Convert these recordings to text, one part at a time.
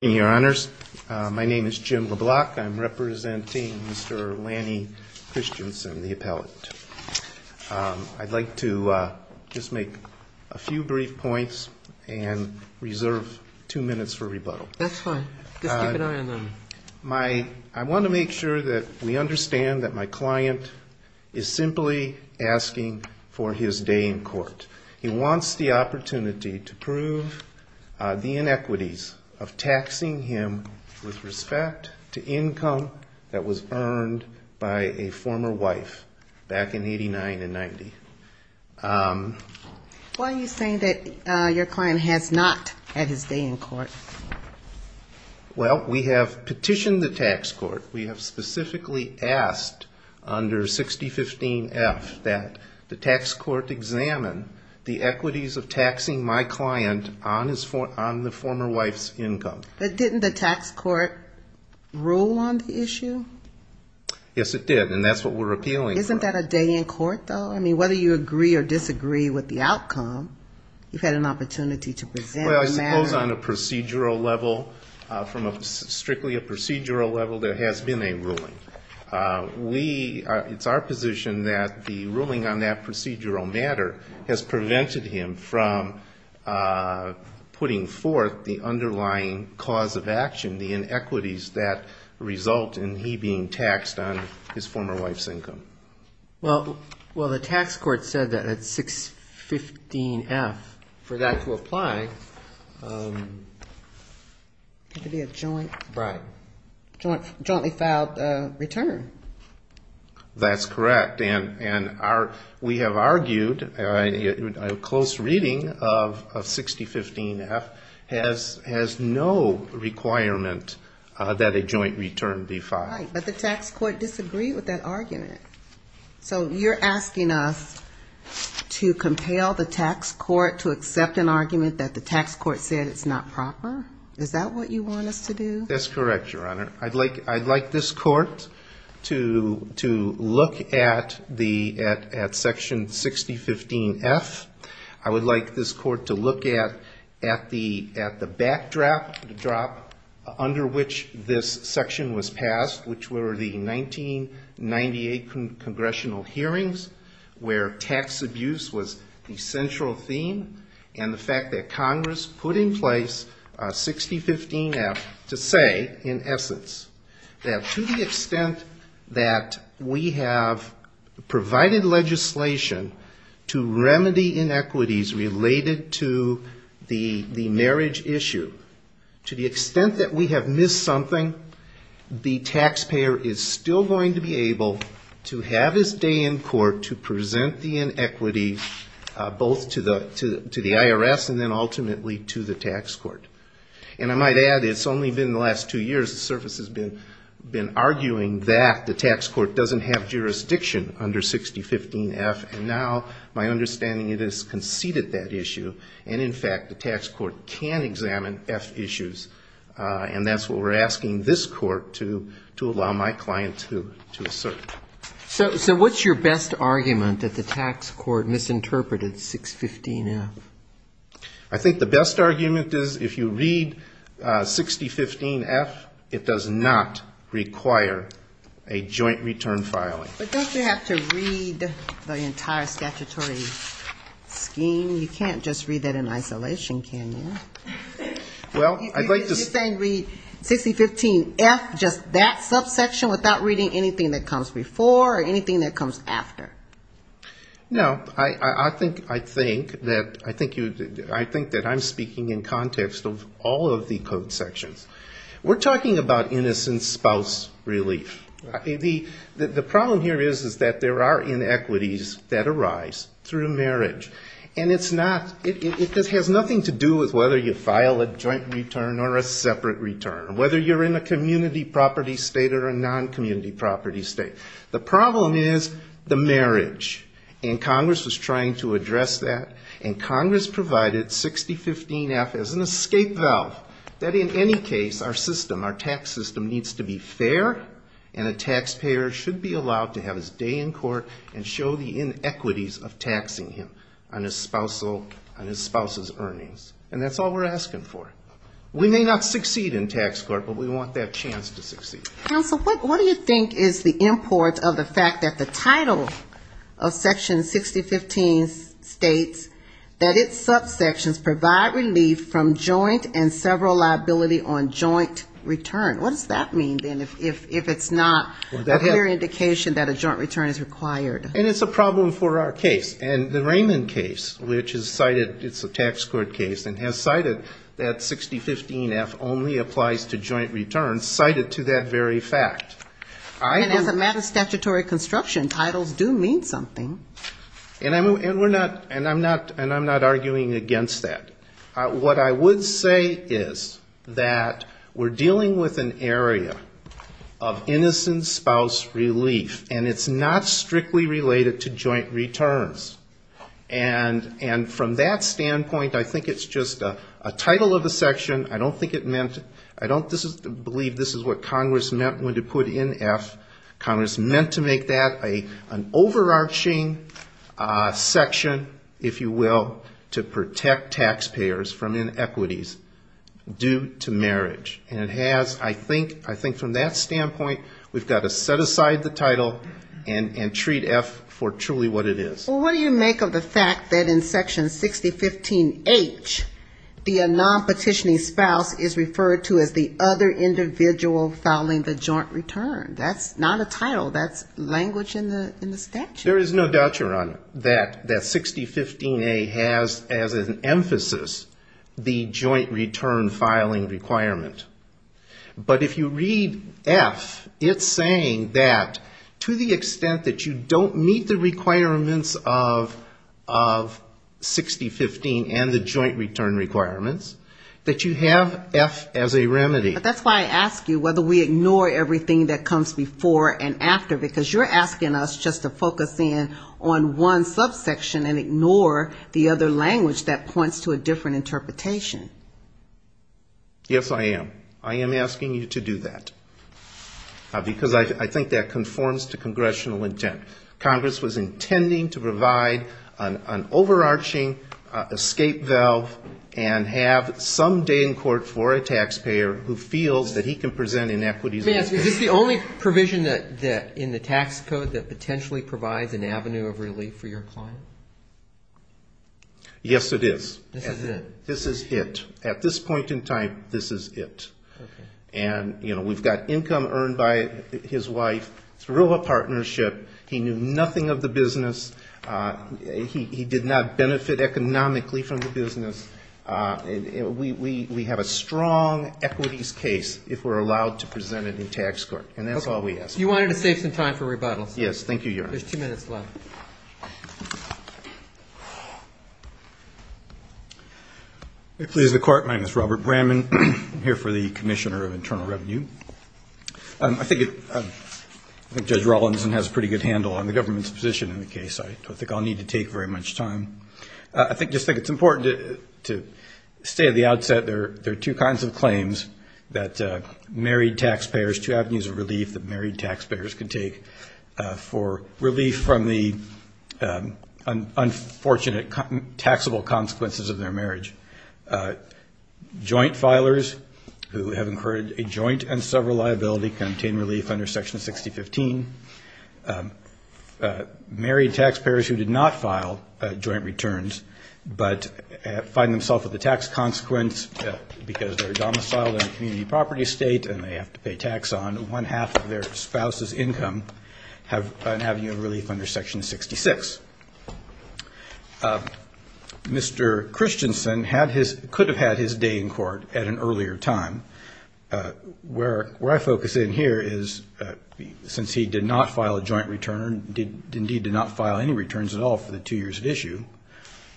My name is Jim LeBlanc. I'm representing Mr. Lanny Christensen, the appellate. I'd like to just make a few brief points and reserve two minutes for rebuttal. That's fine. Just keep an eye on them. I want to make sure that we understand that my client is simply asking for his day in court. He wants the opportunity to prove the inequities of taxing him with respect to income that was earned by a former wife back in 89 and 90. Why are you saying that your client has not had his day in court? Well, we have petitioned the tax court. We have specifically asked under 6015F that the tax court examine the equities of taxing my client on the former wife's income. But didn't the tax court rule on the issue? Yes, it did, and that's what we're appealing for. Isn't that a day in court, though? I mean, whether you agree or disagree with the outcome, you've had an opportunity to present a matter. Well, I suppose on a procedural level, from strictly a procedural level, there has been a ruling. It's our position that the ruling on that procedural matter has prevented him from putting forth the underlying cause of action, the inequities that result in he being taxed on his former wife's income. Well, the tax court said that at 6015F, for that to apply, it had to be a jointly filed return. That's correct, and we have argued, a close reading of 6015F has no requirement that a joint return be filed. Right, but the tax court disagreed with that argument. So you're asking us to compel the tax court to accept an argument that the tax court said is not proper? Is that what you want us to do? That's correct, Your Honor. I'd like this court to look at section 6015F. I would like this court to look at the backdrop, the drop under which this section was passed, which were the 1998 congressional hearings, where tax abuse was the central theme, and the fact that Congress put in place 6015F to say, in essence, that to the extent that we have provided legislation to remedy inequities related to the marriage issue, to the extent that we have missed something, the taxpayer is still going to be able to have his day in court to present the inequity both to the IRS and then ultimately to the tax court. And I might add, it's only been the last two years the service has been arguing that the tax court doesn't have jurisdiction under 6015F, and now my understanding is it has conceded that issue, and in fact the tax court can examine F issues. And that's what we're asking this court to allow my client to assert. So what's your best argument that the tax court misinterpreted 615F? I think the best argument is if you read 6015F, it does not require a joint return filing. But don't you have to read the entire statutory scheme? You can't just read that in isolation, can you? You're saying read 6015F, just that subsection, without reading anything that comes before or anything that comes after? No. I think that I'm speaking in context of all of the code sections. We're talking about innocent spouse relief. The problem here is that there are inequities that arise through marriage, and it has nothing to do with whether you file a joint return or a separate return, whether you're in a community property state or a non-community property state. The problem is the marriage, and Congress was trying to address that, and Congress provided 6015F as an escape valve, that in any case our system, our tax system, needs to be fair, and a taxpayer should be allowed to have his day in court and show the inequities of taxing him on his spouse's earnings. And that's all we're asking for. We may not succeed in tax court, but we want that chance to succeed. Counsel, what do you think is the import of the fact that the title of Section 6015 states that its subsections provide relief from joint and several liability on joint return? What does that mean, then, if it's not a clear indication that a joint return is required? And it's a problem for our case. And the Raymond case, which is cited, it's a tax court case, and has cited that 6015F only applies to joint returns, cited to that very fact. And as a matter of statutory construction, titles do mean something. And I'm not arguing against that. What I would say is that we're dealing with an area of innocent spouse relief, and it's not strictly related to joint returns. And from that standpoint, I think it's just a title of a section. I don't believe this is what Congress meant when it put in F. Congress meant to make that an overarching section, if you will, to protect taxpayers from inequities due to marriage. And I think from that standpoint, we've got to set aside the title and treat F for truly what it is. Well, what do you make of the fact that in Section 6015H, the non-petitioning spouse is referred to as the other individual filing the joint return? That's not a title. That's language in the statute. There is no doubt, Your Honor, that 6015A has as an emphasis the joint return filing requirement. But if you read F, it's saying that to the extent that you don't meet the requirements of 6015 and the joint return requirements, that you have F as a remedy. But that's why I ask you whether we ignore everything that comes before and after, because you're asking us just to focus in on one subsection and ignore the other language that points to a different interpretation. Yes, I am. I am asking you to do that, because I think that conforms to congressional intent. Congress was intending to provide an overarching escape valve and have some day in court for a taxpayer who feels that he can present inequities. May I ask, is this the only provision in the tax code that potentially provides an avenue of relief for your client? Yes, it is. This is it? This is it. At this point in time, this is it. And, you know, we've got income earned by his wife through a partnership. He knew nothing of the business. He did not benefit economically from the business. We have a strong equities case if we're allowed to present it in tax court. And that's all we ask. You wanted to save some time for rebuttals. Yes, thank you, Your Honor. There's two minutes left. If it pleases the Court, my name is Robert Bramman. I'm here for the Commissioner of Internal Revenue. I think Judge Rawlinson has a pretty good handle on the government's position in the case. I don't think I'll need to take very much time. I just think it's important to say at the outset there are two kinds of claims that married taxpayers, two avenues of relief that married taxpayers can take for relief from the unfortunate taxable consequences of their marriage. Joint filers who have incurred a joint and several liability can obtain relief under Section 6015. Married taxpayers who did not file joint returns but find themselves with a tax consequence because they're domiciled in a community property estate and they have to pay tax on one-half of their spouse's income have been having a relief under Section 66. Mr. Christensen could have had his day in court at an earlier time. Where I focus in here is since he did not file a joint return, indeed did not file any returns at all for the two years at issue,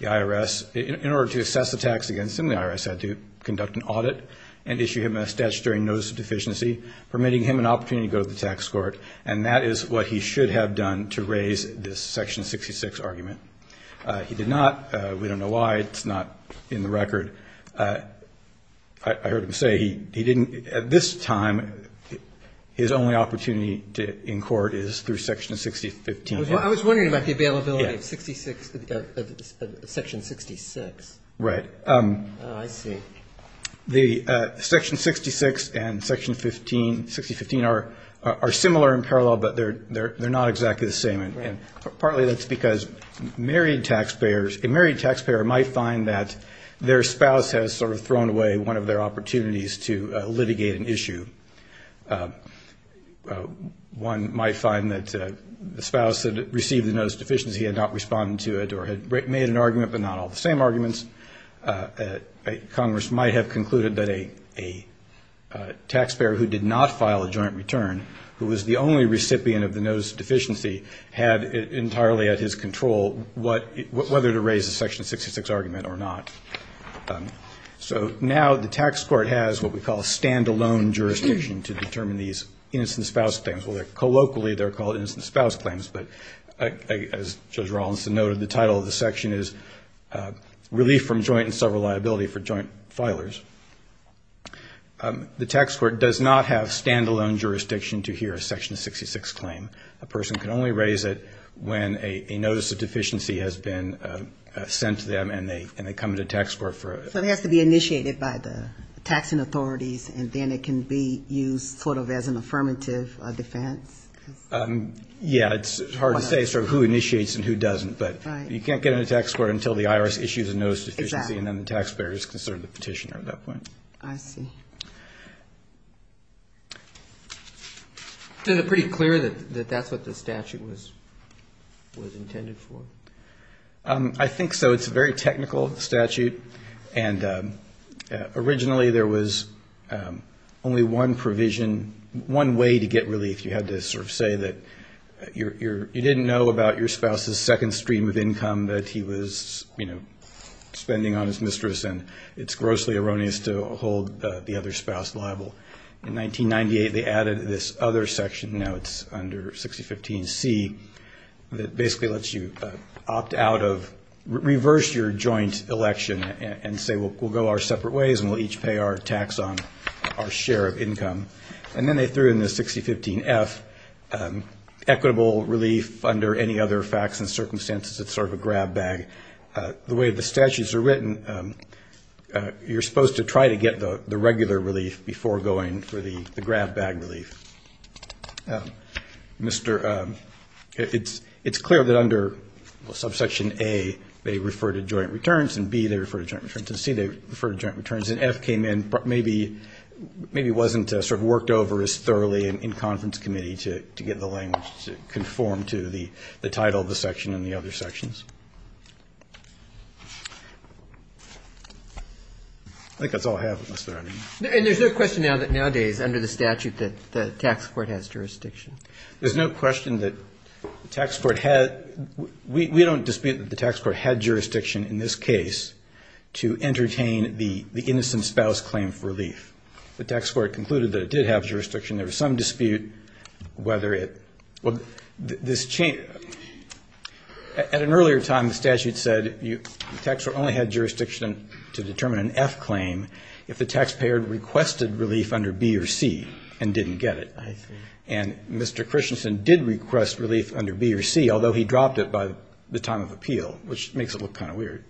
the IRS, in order to assess the tax against him, the IRS had to conduct an audit and issue him a statutory notice of deficiency permitting him an opportunity to go to the tax court, and that is what he should have done to raise this Section 66 argument. He did not. We don't know why. It's not in the record. I heard him say he didn't at this time, his only opportunity in court is through Section 6015. I was wondering about the availability of Section 66. Right. Oh, I see. The Section 66 and Section 6015 are similar in parallel, but they're not exactly the same. Partly that's because a married taxpayer might find that their spouse has sort of thrown away one of their opportunities to litigate an issue. One might find that the spouse that received the notice of deficiency had not responded to it or had made an argument but not all the same arguments. Congress might have concluded that a taxpayer who did not file a joint return, who was the only recipient of the notice of deficiency, had entirely at his control whether to raise the Section 66 argument or not. So now the tax court has what we call a stand-alone jurisdiction to determine these innocent spouse claims. Well, colloquially they're called innocent spouse claims, but as Judge Rawlinson noted, the title of the section is Relief from Joint and Several Liability for Joint Filers. The tax court does not have stand-alone jurisdiction to hear a Section 66 claim. A person can only raise it when a notice of deficiency has been sent to them and they come to the tax court for it. So it has to be initiated by the taxing authorities, and then it can be used sort of as an affirmative defense? Yeah, it's hard to say sort of who initiates and who doesn't, but you can't get into the tax court until the IRS issues a notice of deficiency and then the taxpayer is considered the petitioner at that point. I see. Is it pretty clear that that's what the statute was intended for? I think so. It's a very technical statute, and originally there was only one provision, one way to get relief. You had to sort of say that you didn't know about your spouse's second stream of income that he was spending on his mistress, and it's grossly erroneous to hold the other spouse liable. In 1998 they added this other section, now it's under 6015C, that basically lets you opt out of reverse your joint election and say we'll go our separate ways and we'll each pay our tax on our share of income. And then they threw in the 6015F, equitable relief under any other facts and circumstances. It's sort of a grab bag. The way the statutes are written, you're supposed to try to get the regular relief before going for the grab bag relief. It's clear that under subsection A they refer to joint returns, and B they refer to joint returns, and C they refer to joint returns, and F came in maybe wasn't sort of worked over as thoroughly in conference committee to get the language to conform to the title of the section and the other sections. I think that's all I have. And there's no question now that nowadays under the statute that the tax court has jurisdiction. There's no question that the tax court had. We don't dispute that the tax court had jurisdiction in this case to entertain the innocent spouse claim for relief. The tax court concluded that it did have jurisdiction. There was some dispute whether it was this change. At an earlier time the statute said the tax court only had jurisdiction to determine an F claim if the taxpayer requested relief under B or C and didn't get it. And Mr. Christensen did request relief under B or C, although he dropped it by the time of appeal, which makes it look kind of weird.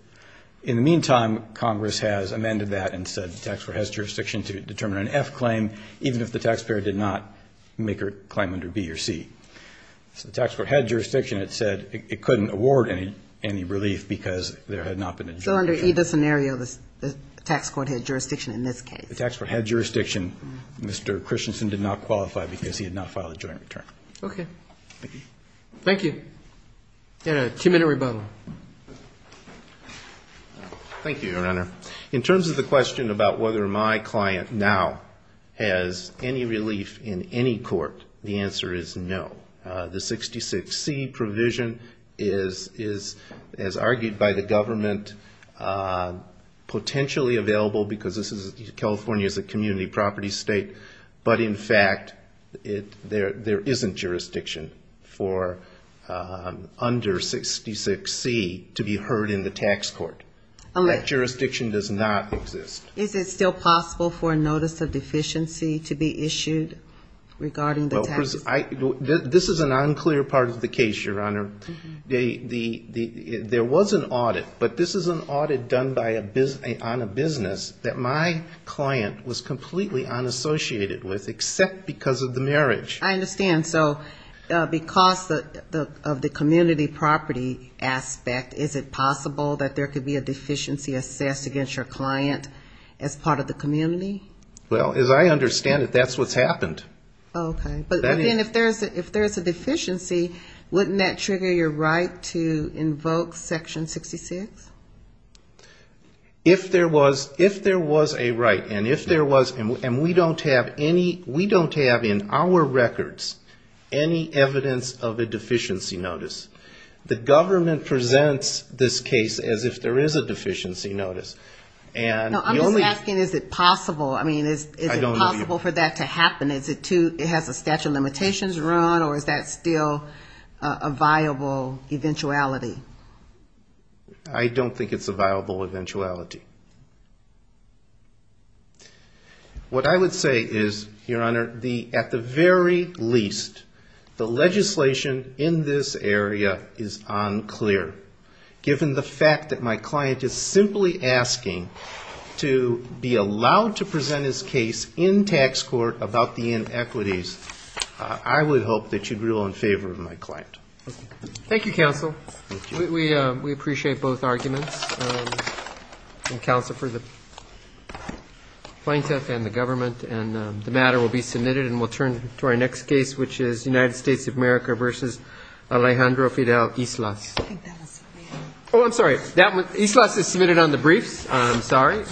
In the meantime, Congress has amended that and said the tax court has jurisdiction to determine an F claim even if the taxpayer did not make a claim under B or C. So the tax court had jurisdiction. It said it couldn't award any relief because there had not been a joint return. So under either scenario the tax court had jurisdiction in this case. The tax court had jurisdiction. Mr. Christensen did not qualify because he had not filed a joint return. Okay. Thank you. And a two-minute rebuttal. Thank you, Your Honor. In terms of the question about whether my client now has any relief in any court, the answer is no. The 66C provision is, as argued by the government, potentially available because California is a community property state, but in fact there isn't jurisdiction for under 66C to be heard in the tax court. That jurisdiction does not exist. Is it still possible for a notice of deficiency to be issued regarding the tax? This is an unclear part of the case, Your Honor. There was an audit, but this is an audit done on a business that my client was completely unassociated with, except because of the marriage. I understand. So because of the community property aspect, is it possible that there could be a deficiency assessed against your client as part of the community? Well, as I understand it, that's what's happened. Okay. But then if there's a deficiency, wouldn't that trigger your right to invoke Section 66? If there was a right, and if there was, and we don't have any, we don't have in our records any evidence of a deficiency notice. The government presents this case as if there is a deficiency notice. No, I'm just asking, is it possible, I mean, is it possible for that to happen? Is it too, it has a statute of limitations run, or is that still a viable eventuality? I don't think it's a viable eventuality. What I would say is, Your Honor, at the very least, the legislation in this area is unclear. Given the fact that my client is simply asking to be allowed to present his case in tax court about the inequities, I would hope that you'd rule in favor of my client. Thank you, counsel. Thank you. We appreciate both arguments, the counsel for the plaintiff and the government. And the matter will be submitted, and we'll turn to our next case, which is United States of America v. Alejandro Fidel Islas. I think that was the man. Oh, I'm sorry. Islas is submitted on the briefs. I'm sorry.